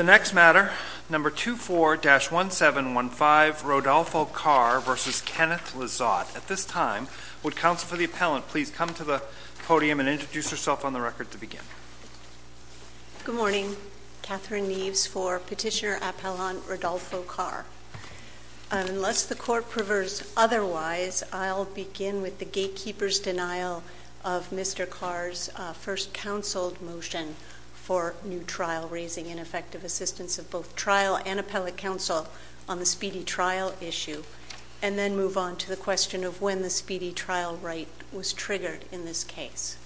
Good morning, Catherine Neves for Petitioner Appellant Rodolfo Carr. Unless the Court prefers otherwise, I'll begin with the gatekeeper's denial of Mr. Carr's first counseled motion for new trial, raising ineffective assistance of both trial and appellate counsel on the Speedy Trial issue, and then move on to the question of when the Speedy Trial right was triggered in this case.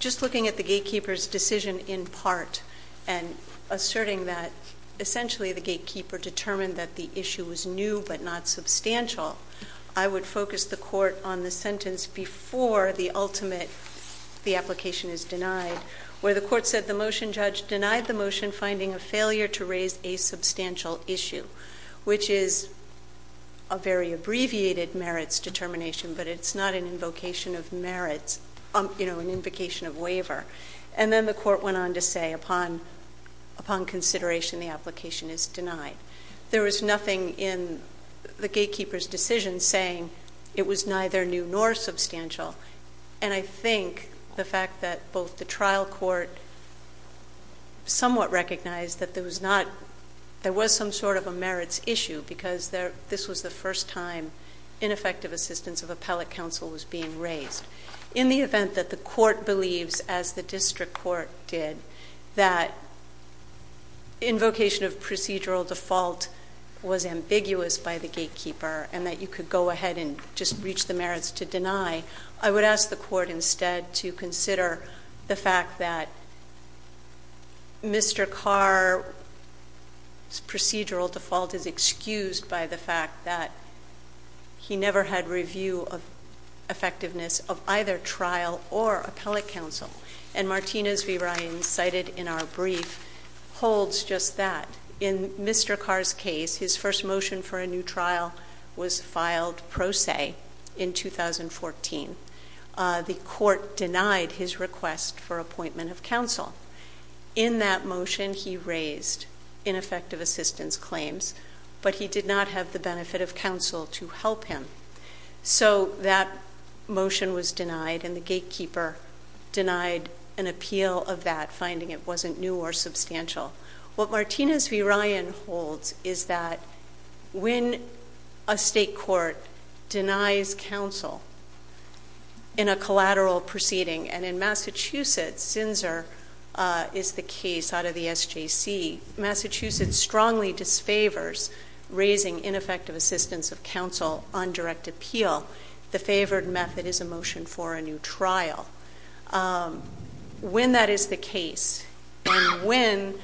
Just looking at the gatekeeper's decision in part and asserting that essentially the gatekeeper determined that the issue was new but not substantial, I would focus the Court on the sentence before the ultimate, the application is denied, where the Court said the motion judge denied the motion finding a failure to raise a substantial issue, which is a very abbreviated merits determination, but it's not an invocation of merit. It's an invocation of waiver. And then the Court went on to say, upon consideration, the application is denied. There was nothing in the gatekeeper's decision saying it was neither new nor substantial. And I think the fact that both the trial court somewhat recognized that there was some sort of a merits issue, because this was the first time ineffective assistance of appellate counsel was being raised. In the event that the court believes, as the district court did, that invocation of procedural default was ambiguous by the gatekeeper and that you could go ahead and just reach the merits to deny, I would ask the court instead to consider the fact that Mr. Carr's procedural default is excused by the fact that he never had review of effectiveness of either trial or appellate counsel. And Martinez v. Ryan, cited in our brief, holds just that. In Mr. Carr's case, his first motion for a new trial was filed pro se in 2014. The court denied his request for appointment of counsel. In that motion, he raised ineffective assistance claims, but he did not have the benefit of counsel to help him. So that motion was denied, and the gatekeeper denied an appeal of that, finding it wasn't new or substantial. What Martinez v. Ryan holds is that when a state court denies counsel in a collateral proceeding, and in Massachusetts, Sinzer is the case out of the SJC. Massachusetts strongly disfavors raising ineffective assistance of counsel on direct appeal. The favored method is a motion for a new trial. When that is the case, and when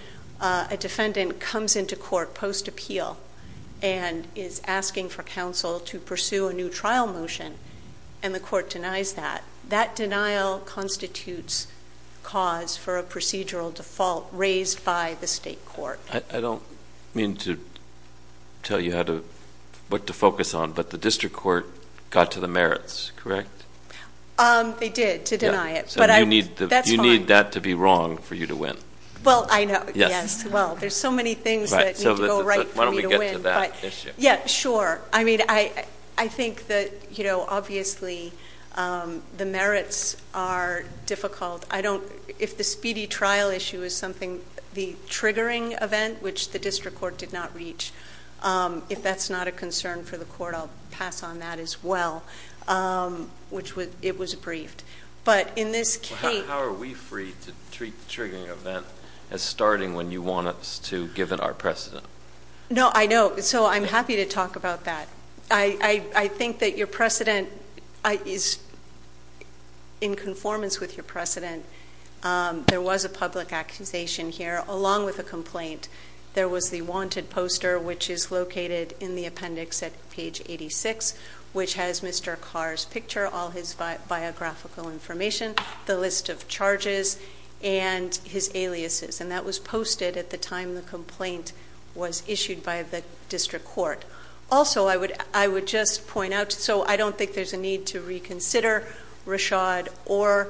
a defendant comes into court post appeal and is asking for counsel to pursue a new trial motion, and the court denies that, that denial constitutes cause for a procedural default raised by the state court. I don't mean to tell you what to focus on, but the district court got to the merits, correct? They did, to deny it. So you need that to be wrong for you to win. Well, I know. Yes. Well, there's so many things that need to go right for me to win. Yeah, sure. I mean, I think that obviously the merits are difficult. I don't, if the speedy trial issue is something, the triggering event, which the district court did not reach. If that's not a concern for the court, I'll pass on that as well, which it was briefed. But in this case- How are we free to treat the triggering event as starting when you want us to give it our precedent? No, I know, so I'm happy to talk about that. I think that your precedent is in conformance with your precedent. There was a public accusation here along with a complaint. There was the wanted poster, which is located in the appendix at page 86, which has Mr. Carr's picture, all his biographical information, the list of charges, and his aliases. And that was posted at the time the complaint was issued by the district court. Also, I would just point out, so I don't think there's a need to reconsider Rashad or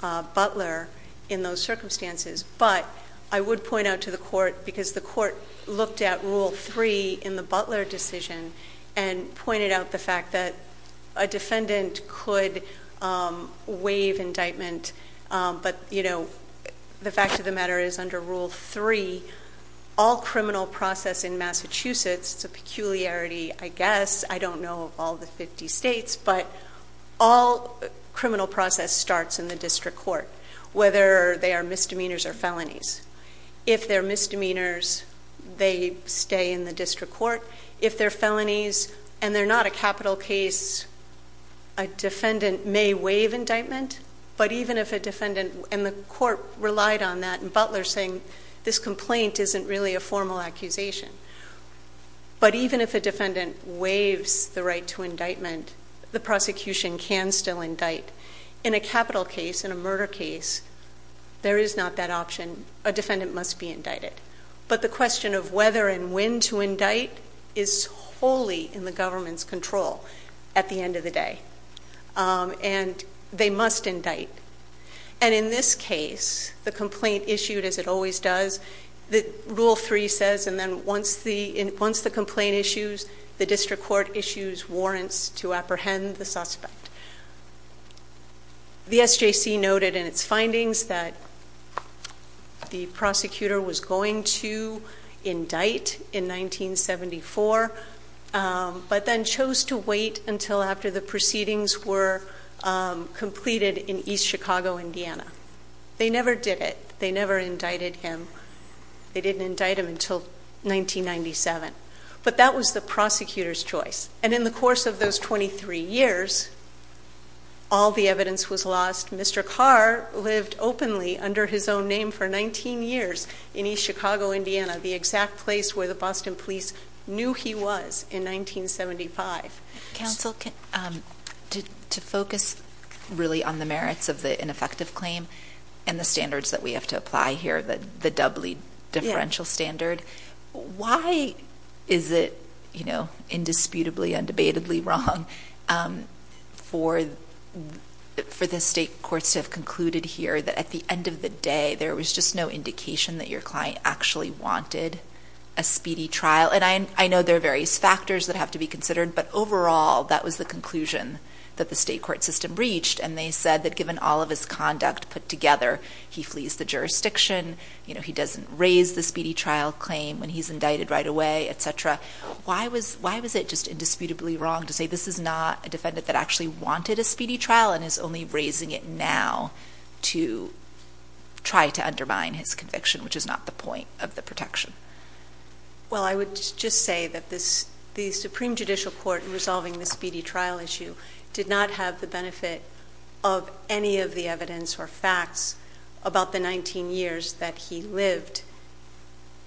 Butler in those circumstances, but I would point out to the court, because the court looked at rule three in the Butler decision and pointed out the fact that a defendant could waive indictment. But the fact of the matter is under rule three, all criminal process in Massachusetts, it's a peculiarity, I guess, I don't know of all the 50 states, but all criminal process starts in the district court, whether they are misdemeanors or felonies. If they're misdemeanors, they stay in the district court. If they're felonies and they're not a capital case, a defendant may waive indictment. But even if a defendant, and the court relied on that in Butler saying, this complaint isn't really a formal accusation. But even if a defendant waives the right to indictment, the prosecution can still indict. In a capital case, in a murder case, there is not that option. A defendant must be indicted. But the question of whether and when to indict is wholly in the government's control at the end of the day, and they must indict. And in this case, the complaint issued, as it always does, rule three says, and then once the complaint issues, the district court issues warrants to apprehend the suspect. The SJC noted in its findings that the prosecutor was going to indict in 1974, but then chose to wait until after the proceedings were completed in East Chicago, Indiana. They never did it. They never indicted him. They didn't indict him until 1997, but that was the prosecutor's choice. And in the course of those 23 years, all the evidence was lost. Mr. Carr lived openly under his own name for 19 years in East Chicago, Indiana. The exact place where the Boston police knew he was in 1975. Council, to focus really on the merits of the ineffective claim and the standards that we have to apply here, the doubly differential standard. Why is it indisputably and debatably wrong for the state courts to have concluded here that at the end of the day, there was just no indication that your client actually wanted a speedy trial? And I know there are various factors that have to be considered, but overall, that was the conclusion that the state court system reached. And they said that given all of his conduct put together, he flees the jurisdiction, he doesn't raise the speedy trial claim when he's indicted right away, etc. Why was it just indisputably wrong to say this is not a defendant that actually wanted a speedy trial and is only raising it now to try to undermine his conviction, which is not the point of the protection? Well, I would just say that the Supreme Judicial Court resolving the speedy trial issue did not have the benefit of any of the evidence or facts about the 19 years that he lived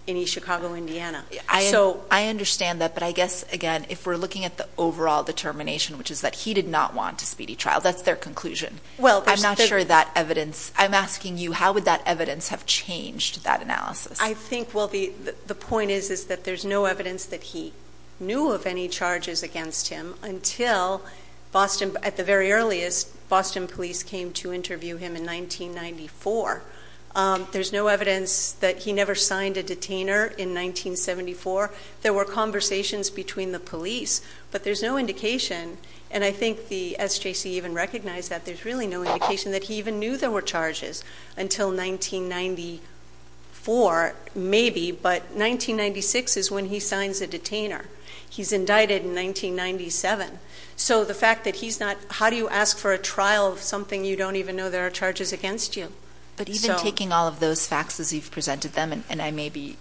in East Chicago, Indiana. So- I understand that, but I guess, again, if we're looking at the overall determination, which is that he did not want a speedy trial, that's their conclusion. Well, I'm not sure that evidence, I'm asking you, how would that evidence have changed that analysis? I think, well, the point is that there's no evidence that he knew of any charges against him until, at the very earliest, Boston police came to interview him in 1994. There's no evidence that he never signed a detainer in 1974. There were conversations between the police, but there's no indication, and I think the SJC even recognized that there's really no indication that he even knew there were charges until 1994, maybe. But 1996 is when he signs a detainer. He's indicted in 1997. So the fact that he's not, how do you ask for a trial of something you don't even know there are charges against you? But even taking all of those facts as you've presented them, and I may be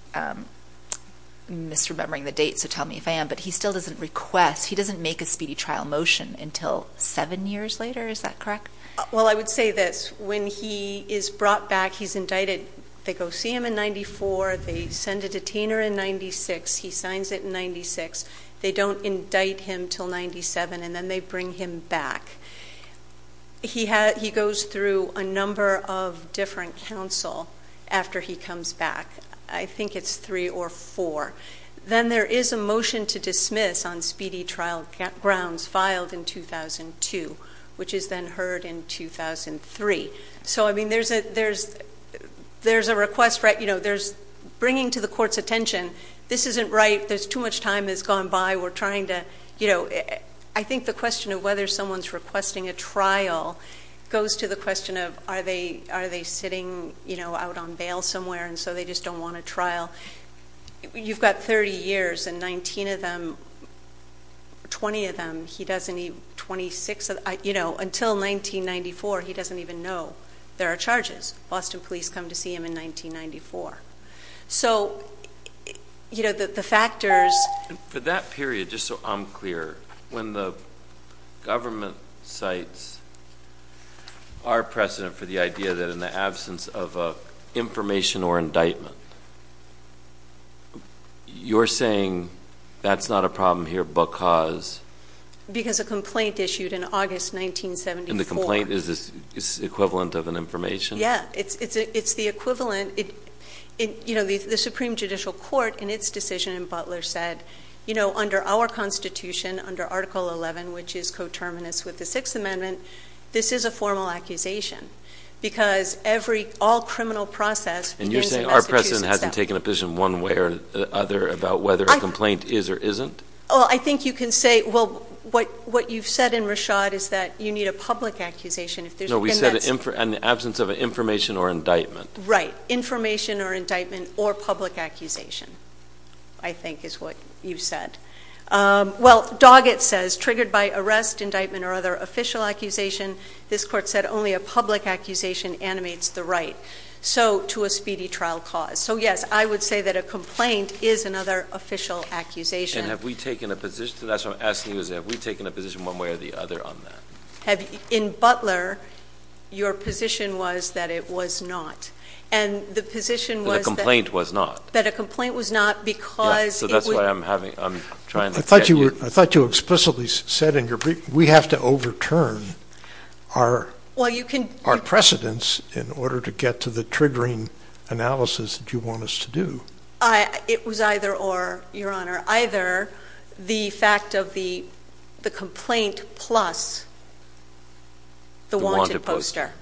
misremembering the dates, so tell me if I am. But he still doesn't request, he doesn't make a speedy trial motion until seven years later, is that correct? Well, I would say this, when he is brought back, he's indicted. They go see him in 94, they send a detainer in 96, he signs it in 96. They don't indict him until 97, and then they bring him back. He goes through a number of different counsel after he comes back. I think it's three or four. Then there is a motion to dismiss on speedy trial grounds filed in 2002, which is then heard in 2003. So I mean, there's a request, right? There's bringing to the court's attention, this isn't right, there's too much time has gone by. We're trying to, I think the question of whether someone's requesting a trial goes to the question of are they sitting out on bail somewhere, and so they just don't want a trial. You've got 30 years, and 19 of them, 20 of them, he doesn't even, 26 of them, until 1994, he doesn't even know there are charges. Boston police come to see him in 1994. So the factors- For that period, just so I'm clear, when the government cites our precedent for the idea that in the absence of information or indictment, you're saying that's not a problem here because- Because a complaint issued in August 1974. And the complaint is equivalent of an information? Yeah, it's the equivalent. The Supreme Judicial Court, in its decision, and Butler said, under our constitution, under Article 11, which is coterminous with the Sixth Amendment, this is a formal accusation, because every all criminal process- And you're saying our precedent hasn't taken a position one way or the other about whether a complaint is or isn't? I think you can say, well, what you've said in Rashad is that you need a public accusation. No, we said in the absence of an information or indictment. Right, information or indictment or public accusation, I think is what you said. Well, Doggett says, triggered by arrest, indictment, or other official accusation, this court said only a public accusation animates the right, so to a speedy trial cause. So yes, I would say that a complaint is another official accusation. And have we taken a position, that's what I'm asking you, is have we taken a position one way or the other on that? In Butler, your position was that it was not. And the position was that- That a complaint was not. That a complaint was not, because it would- So that's why I'm trying to get you- I thought you explicitly said in your brief, we have to overturn our precedents in order to get to the triggering analysis that you want us to do. It was either or, your honor, either the fact of the complaint plus the wanted poster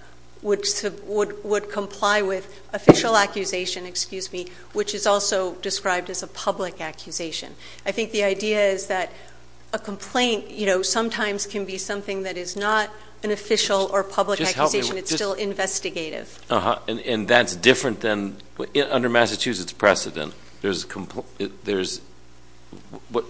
would comply with official accusation, excuse me, which is also described as a public accusation. I think the idea is that a complaint sometimes can be something that is not an official or public accusation, it's still investigative. And that's different than, under Massachusetts precedent, there's,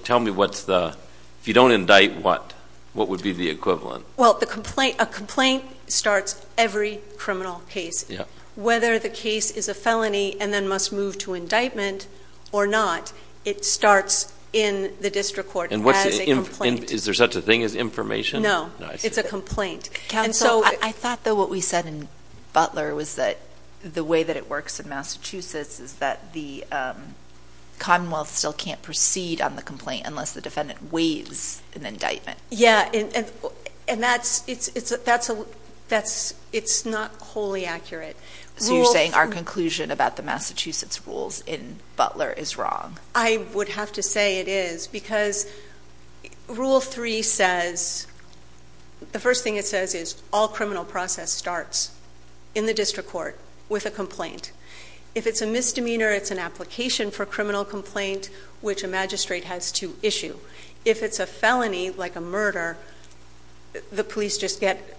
tell me what's the, if you don't indict, what would be the equivalent? Well, a complaint starts every criminal case. Whether the case is a felony and then must move to indictment or not, it starts in the district court as a complaint. Is there such a thing as information? No, it's a complaint. And so- I thought that what we said in Butler was that the way that it works in Massachusetts is that the Commonwealth still can't proceed on the complaint unless the defendant waives an indictment. Yeah, and that's, it's not wholly accurate. So you're saying our conclusion about the Massachusetts rules in Butler is wrong? I would have to say it is, because rule three says, the first thing it says is all criminal process starts in the district court with a complaint. If it's a misdemeanor, it's an application for criminal complaint, which a magistrate has to issue. If it's a felony, like a murder, the police just get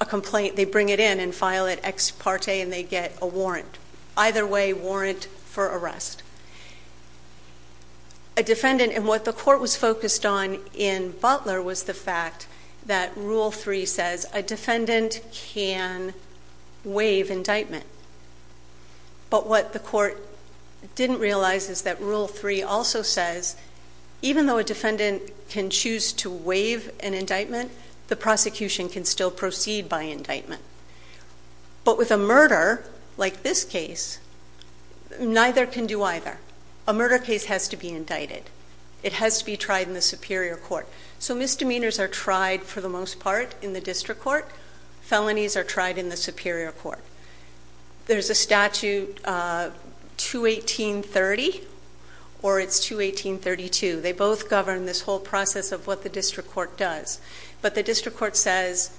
a complaint. They bring it in and file it ex parte and they get a warrant. Either way, warrant for arrest. A defendant, and what the court was focused on in Butler was the fact that rule three says a defendant can waive indictment. But what the court didn't realize is that rule three also says, even though a defendant can choose to waive an indictment, the prosecution can still proceed by indictment. But with a murder, like this case, neither can do either. A murder case has to be indicted. It has to be tried in the superior court. So misdemeanors are tried, for the most part, in the district court. Felonies are tried in the superior court. There's a statute, 218.30, or it's 218.32. They both govern this whole process of what the district court does. But the district court says,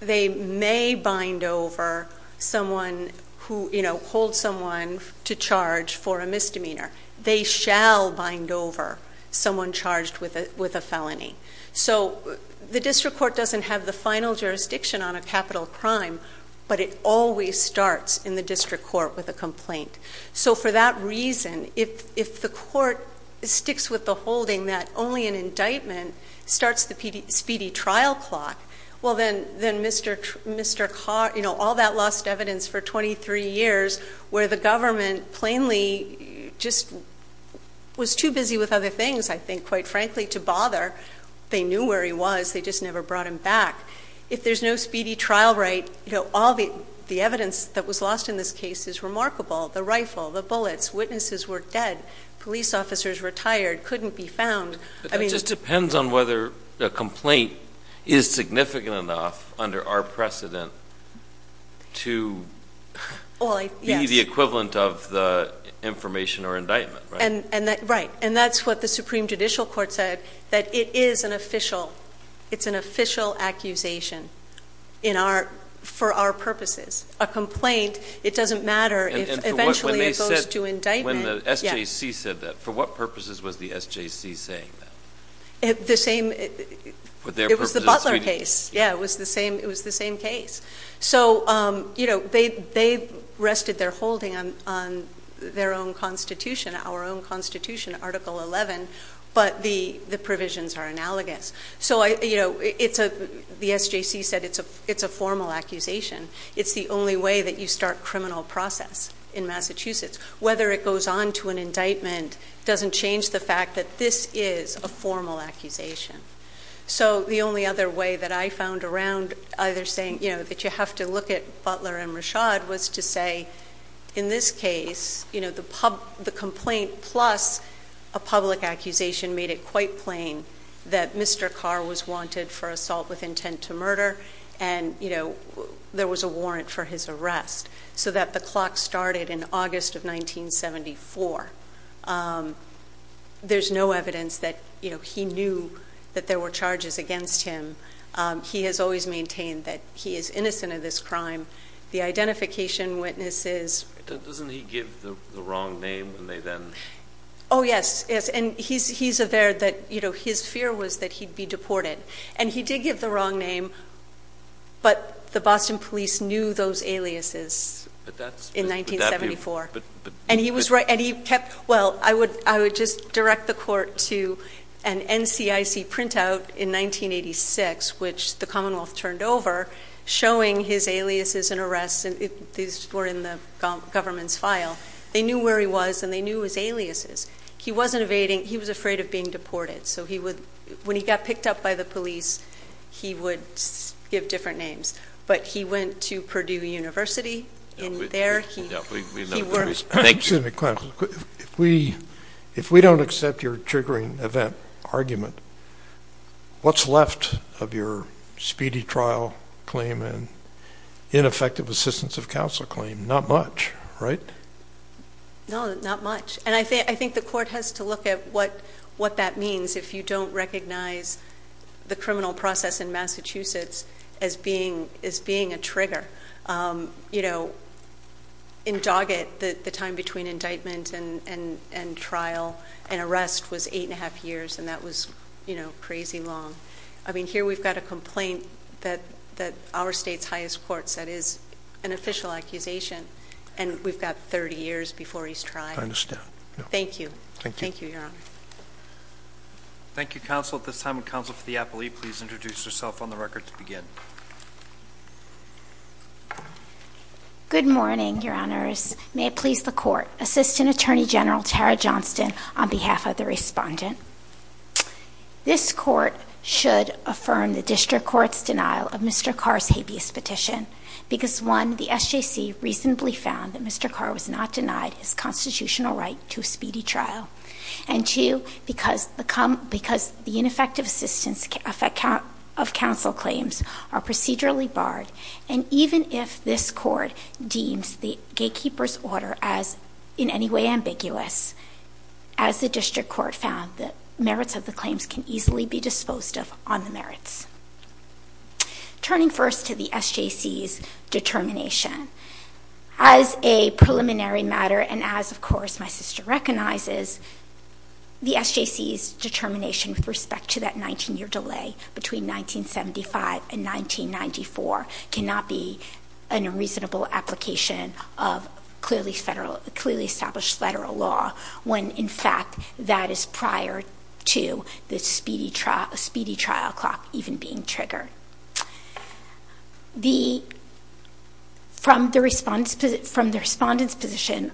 they may bind over someone who, hold someone to charge for a misdemeanor. They shall bind over someone charged with a felony. So the district court doesn't have the final jurisdiction on a capital crime, but it always starts in the district court with a complaint. So for that reason, if the court sticks with the holding that only an indictment starts the speedy trial clock, well then, all that lost evidence for 23 years, where the government plainly just was too busy with other things, I think, quite frankly, to bother, they knew where he was, they just never brought him back. If there's no speedy trial right, all the evidence that was lost in this case is remarkable. The rifle, the bullets, witnesses were dead, police officers retired, couldn't be found. I mean- It just depends on whether a complaint is significant enough under our precedent to- Well, yes. Be the equivalent of the information or indictment, right? Right, and that's what the Supreme Judicial Court said, that it is an official, it's an official accusation for our purposes. A complaint, it doesn't matter if eventually it goes to indictment. And the SJC said that, for what purposes was the SJC saying that? The same, it was the Butler case, yeah, it was the same case. So they rested their holding on their own constitution, our own constitution, Article 11, but the provisions are analogous. So the SJC said it's a formal accusation, it's the only way that you start criminal process in Massachusetts. Whether it goes on to an indictment doesn't change the fact that this is a formal accusation. So the only other way that I found around either saying that you have to look at Butler and Rashad was to say, in this case, the complaint plus a public accusation made it quite plain that Mr. Carr was wanted for assault with intent to murder. And there was a warrant for his arrest, so that the clock started in August of 1974. There's no evidence that he knew that there were charges against him. He has always maintained that he is innocent of this crime. The identification witnesses- Doesn't he give the wrong name when they then- Yes, yes, and he's aware that his fear was that he'd be deported. And he did give the wrong name, but the Boston police knew those aliases in 1974. And he kept, well, I would just direct the court to an NCIC printout in 1986, which the Commonwealth turned over, showing his aliases and arrests, and these were in the government's file. They knew where he was, and they knew his aliases. He wasn't evading, he was afraid of being deported. So he would, when he got picked up by the police, he would give different names. But he went to Purdue University, and there he- Yeah, we know- Excuse me, if we don't accept your triggering event argument, what's left of your speedy trial claim and ineffective assistance of counsel claim? Not much, right? No, not much, and I think the court has to look at what that means if you don't recognize the criminal process in Massachusetts as being a trigger. In Doggett, the time between indictment and trial and arrest was eight and a half years, and that was crazy long. I mean, here we've got a complaint that our state's highest court said is an official accusation, and we've got 30 years before he's tried. I understand. Thank you. Thank you, Your Honor. Thank you, counsel. At this time, would counsel for the appellee please introduce herself on the record to begin? Good morning, Your Honors. May it please the court. Assistant Attorney General Tara Johnston on behalf of the respondent. This court should affirm the district court's denial of Mr. Carr's habeas petition. Because one, the SJC reasonably found that Mr. Carr was not denied his constitutional right to a speedy trial. And two, because the ineffective assistance of counsel claims are procedurally barred. And even if this court deems the gatekeeper's order as in any way ambiguous, as the district court found that merits of the claims can easily be disposed of on the merits. Turning first to the SJC's determination. As a preliminary matter, and as of course my sister recognizes, the SJC's determination with respect to that 19 year delay between 1975 and 1994 cannot be an unreasonable application of clearly established federal law. When in fact, that is prior to the speedy trial clock even being triggered. From the respondent's position,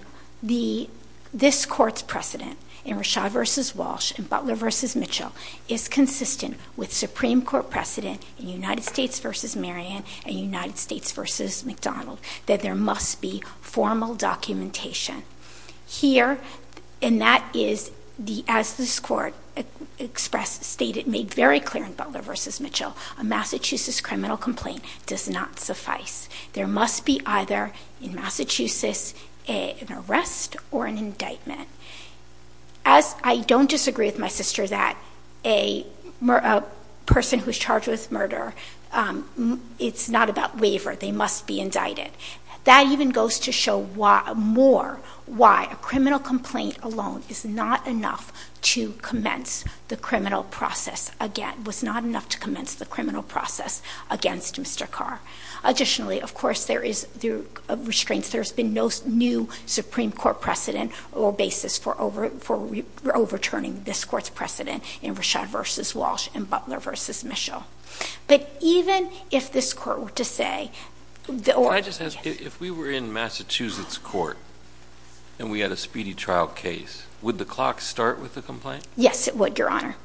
this court's precedent in Rashad versus Walsh and Butler versus Mitchell is consistent with Supreme Court precedent in United States versus Marion and United States versus McDonald, that there must be formal documentation. Here, and that is, as this court expressed, stated, made very clear in Butler versus Mitchell. A Massachusetts criminal complaint does not suffice. There must be either, in Massachusetts, an arrest or an indictment. As I don't disagree with my sister that a person who's charged with murder, it's not about waiver, they must be indicted. That even goes to show more why a criminal complaint alone is not enough to commence the criminal process against Mr. Carr. Additionally, of course, there is restraints, there's been no new Supreme Court precedent or basis for overturning this court's precedent in Rashad versus Walsh and Butler versus Mitchell. But even if this court were to say- I just ask, if we were in Massachusetts court and we had a speedy trial case, would the clock start with the complaint? Yes, it would, your honor.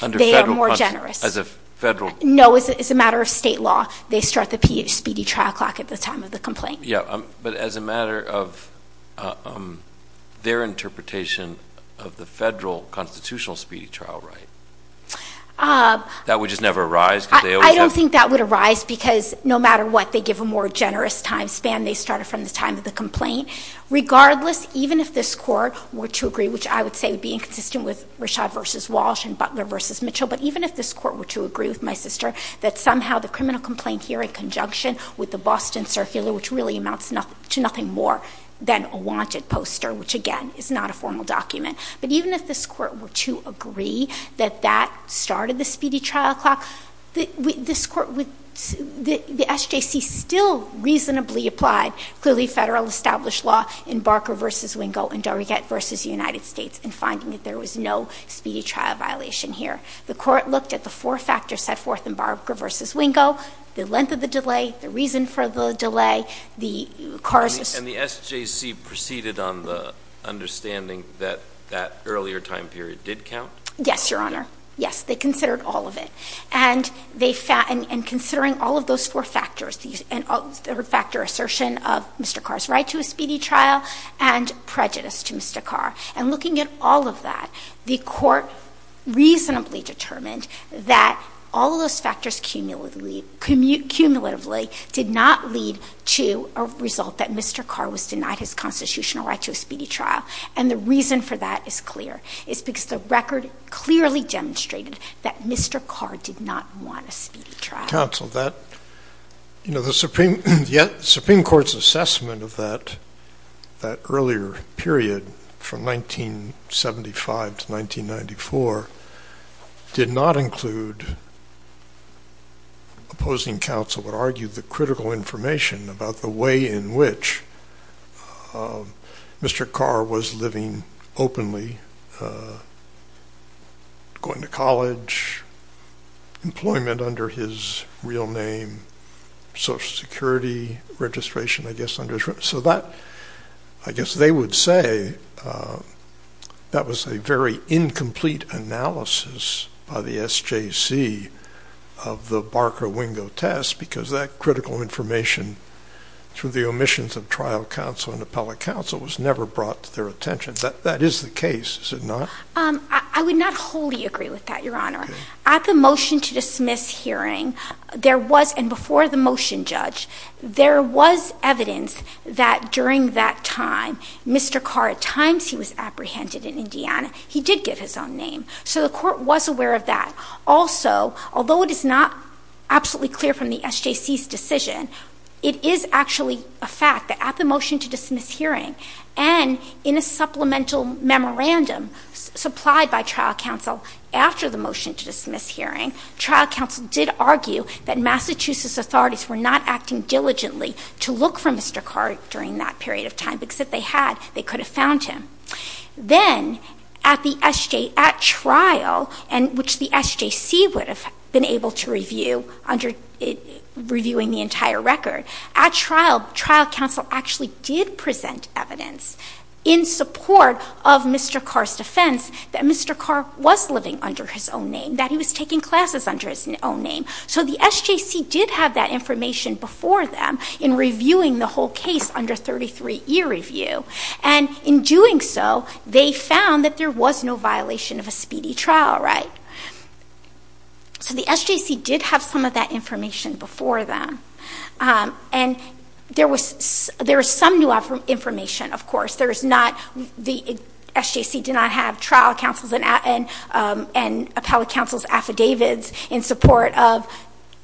Under federal- They are more generous. As a federal- No, as a matter of state law, they start the speedy trial clock at the time of the complaint. Yeah, but as a matter of their interpretation of the federal constitutional speedy trial right. That would just never arise? I don't think that would arise because no matter what, they give a more generous time span. They start it from the time of the complaint. Regardless, even if this court were to agree, which I would say would be inconsistent with Rashad versus Walsh and Butler versus Mitchell. But even if this court were to agree with my sister that somehow the criminal complaint here in conjunction with the Boston Circular, which really amounts to nothing more than a wanted poster, which again is not a formal document. But even if this court were to agree that that started the speedy trial clock, this court would, the SJC still reasonably applied clearly federal established law in Barker versus Wingo and Darragat versus the United States in finding that there was no speedy trial violation here. The court looked at the four factors set forth in Barker versus Wingo, the length of the delay, the reason for the delay, the cars- And the SJC proceeded on the understanding that that earlier time period did count? Yes, your honor. Yes, they considered all of it. And considering all of those four factors, the third factor assertion of Mr. Carr's right to a speedy trial and prejudice to Mr. Carr. And looking at all of that, the court reasonably determined that all of those factors cumulatively did not lead to a result that Mr. Carr was denied his constitutional right to a speedy trial. And the reason for that is clear. It's because the record clearly demonstrated that Mr. Carr did not want a speedy trial. Counsel, that, you know, the Supreme Court's assessment of that earlier period from 1975 to 1994 did not include opposing counsel would argue the critical information about the way in which Mr. Carr was living openly, going to college, employment under his real name, Social Security registration, I guess. So that, I guess they would say that was a very incomplete analysis by the SJC of the Barker-Wingo test, because that critical information through the omissions of trial counsel and appellate counsel was never brought to their attention. That is the case, is it not? I would not wholly agree with that, your honor. At the motion to dismiss hearing, there was, and before the motion, Judge, there was evidence that during that time, Mr. Carr, at times he was apprehended in Indiana, he did give his own name. So the court was aware of that. Also, although it is not absolutely clear from the SJC's decision, it is actually a fact that at the motion to dismiss hearing and in a supplemental memorandum supplied by trial counsel after the motion to dismiss hearing, trial counsel did argue that Massachusetts authorities were not acting diligently to look for Mr. Carr during that period of time, because if they had, they could have found him. Then, at the SJ, at trial, and which the SJC would have been able to review under reviewing the entire record, at trial, trial counsel actually did present evidence in support of Mr. Carr's defense that Mr. Carr was living under his own name, that he was taking classes under his own name. So the SJC did have that information before them in reviewing the whole case under 33-E review. And in doing so, they found that there was no violation of a speedy trial, right? So the SJC did have some of that information before them. And there was some new information, of course. There is not, the SJC did not have trial counsel's and appellate counsel's affidavits in support of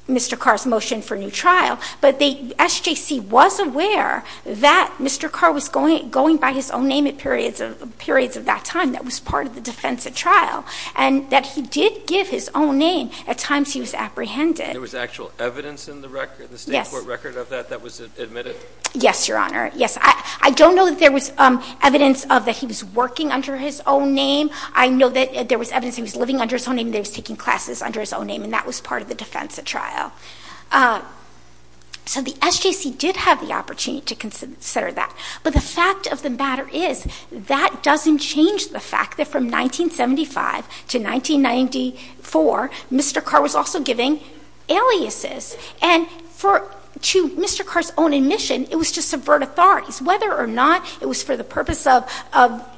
Mr. Carr's motion for new trial. But the SJC was aware that Mr. Carr was going by his own name at periods of that time. That was part of the defense at trial. And that he did give his own name at times he was apprehended. There was actual evidence in the record, the state court record of that, that was admitted? Yes, Your Honor. Yes, I don't know that there was evidence of that he was working under his own name. I know that there was evidence he was living under his own name, that he was taking classes under his own name. And that was part of the defense at trial. So the SJC did have the opportunity to consider that. But the fact of the matter is, that doesn't change the fact that from 1975 to 1994, Mr. Carr was also giving aliases. And to Mr. Carr's own admission, it was to subvert authorities. Whether or not it was for the purpose of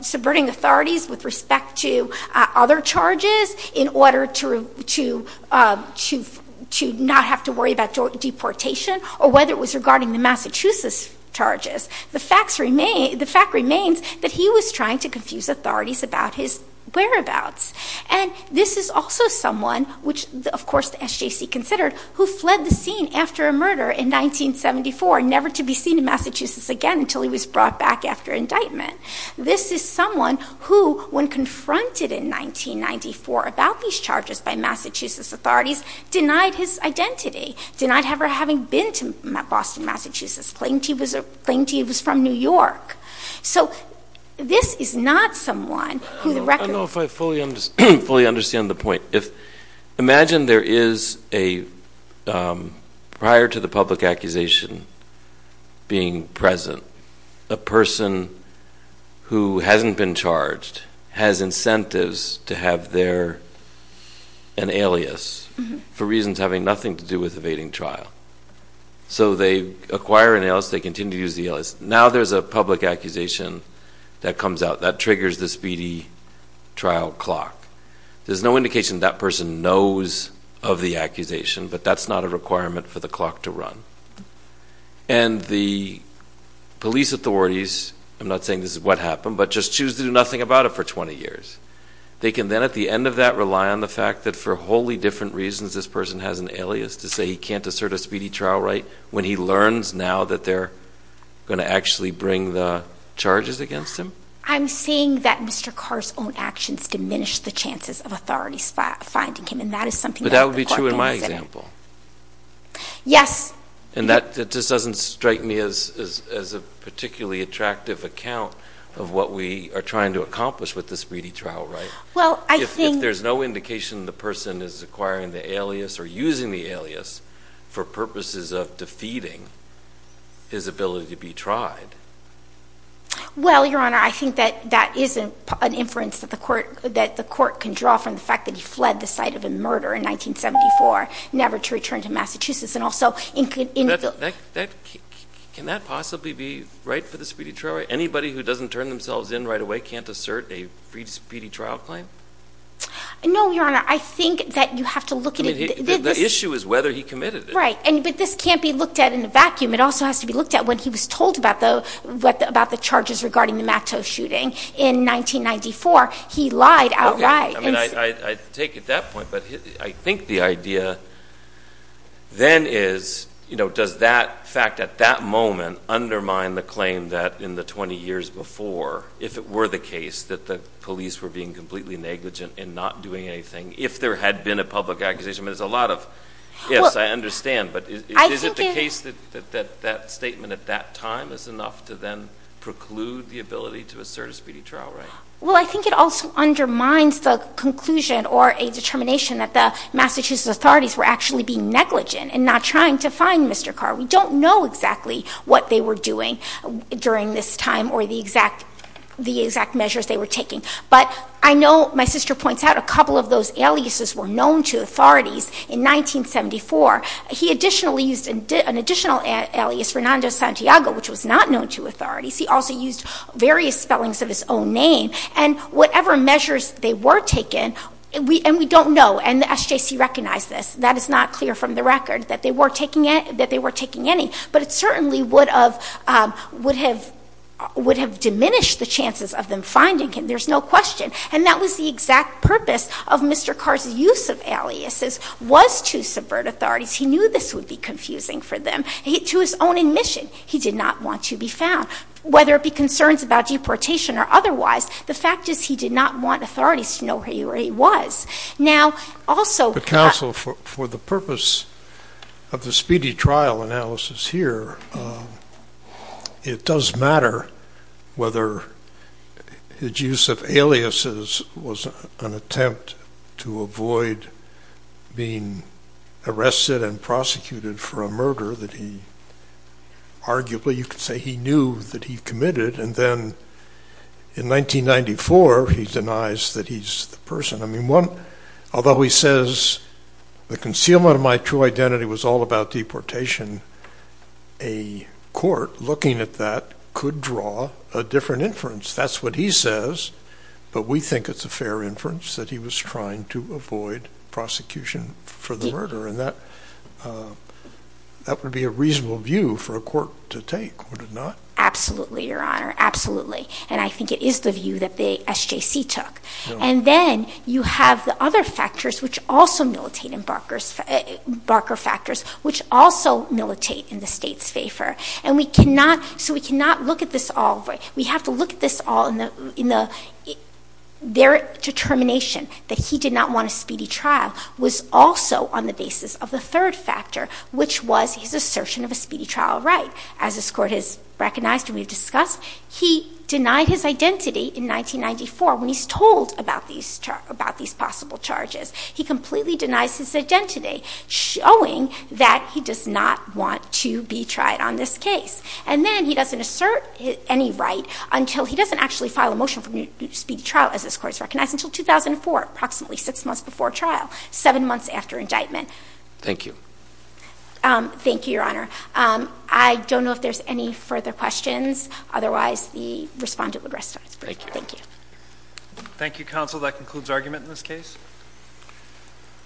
subverting authorities with respect to other charges, in order to not have to worry about deportation, or whether it was regarding the Massachusetts charges, the fact remains that he was trying to confuse authorities about his whereabouts. And this is also someone, which of course the SJC considered, who fled the scene after a murder in 1974, never to be seen in Massachusetts again until he was brought back after indictment. This is someone who, when confronted in 1994 about these charges by Massachusetts authorities, denied his identity, denied ever having been to Boston, Massachusetts, claimed he was from New York. So this is not someone who the record- I don't know if I fully understand the point. Imagine there is a, prior to the public accusation being present, a person who hasn't been charged has incentives to have their, an alias, for reasons having nothing to do with evading trial. So they acquire an alias, they continue to use the alias. Now there's a public accusation that comes out that triggers the speedy trial clock. There's no indication that person knows of the accusation, but that's not a requirement for the clock to run. And the police authorities, I'm not saying this is what happened, but just choose to do nothing about it for 20 years. They can then at the end of that rely on the fact that for wholly different reasons this person has an alias to say he can't assert a speedy trial right. When he learns now that they're going to actually bring the charges against him. I'm seeing that Mr. Carr's own actions diminish the chances of authorities finding him and that is something- But that would be true in my example. Yes. And that just doesn't strike me as a particularly attractive account of what we are trying to accomplish with the speedy trial, right? Well, I think- Defeating his ability to be tried. Well, your honor, I think that that is an inference that the court can draw from the fact that he fled the site of a murder in 1974, never to return to Massachusetts, and also- Can that possibly be right for the speedy trial? Anybody who doesn't turn themselves in right away can't assert a speedy trial claim? No, your honor. I think that you have to look at it- The issue is whether he committed it. Right, but this can't be looked at in a vacuum. It also has to be looked at when he was told about the charges regarding the Matto shooting in 1994. He lied outright. I mean, I take it at that point, but I think the idea then is, you know, does that fact at that moment undermine the claim that in the 20 years before, if it were the case, that the police were being completely negligent in not doing anything, if there had been a public accusation? I mean, there's a lot of ifs I understand, but is it the case that that statement at that time is enough to then preclude the ability to assert a speedy trial, right? Well, I think it also undermines the conclusion or a determination that the Massachusetts authorities were actually being negligent in not trying to find Mr. Carr. We don't know exactly what they were doing during this time or the exact measures they were taking. But I know my sister points out a couple of those aliases were known to authorities in 1974. He additionally used an additional alias, Fernando Santiago, which was not known to authorities. He also used various spellings of his own name. And whatever measures they were taking, and we don't know, and the SJC recognized this. That is not clear from the record that they were taking any. But it certainly would have diminished the chances of them finding him. There's no question. And that was the exact purpose of Mr. Carr's use of aliases was to subvert authorities. He knew this would be confusing for them. To his own admission, he did not want to be found. Whether it be concerns about deportation or otherwise, the fact is he did not want authorities to know where he was. Now, also- Also, for the purpose of the speedy trial analysis here, it does matter whether his use of aliases was an attempt to avoid being arrested and prosecuted for a murder that he arguably, you could say he knew that he committed. And then in 1994, he denies that he's the person. I mean, although he says the concealment of my true identity was all about deportation, a court looking at that could draw a different inference. That's what he says, but we think it's a fair inference that he was trying to avoid prosecution for the murder. And that would be a reasonable view for a court to take, would it not? Absolutely, Your Honor. Absolutely. And I think it is the view that the SJC took. And then you have the other factors which also militate in Barker's, Barker factors, which also militate in the State's favor. And we cannot, so we cannot look at this all, we have to look at this all in the, their determination that he did not want a speedy trial was also on the basis of the third factor, which was his assertion of a speedy trial right. As this court has recognized and we've discussed, he denied his identity in 1994 when he's told about these possible charges. He completely denies his identity, showing that he does not want to be tried on this case. And then he doesn't assert any right until he doesn't actually file a motion for a speedy trial, as this court has recognized, until 2004, approximately six months before trial, seven months after indictment. Thank you. Thank you, Your Honor. I don't know if there's any further questions. Otherwise, the respondent would rest his case. Thank you. Thank you, counsel. That concludes argument in this case.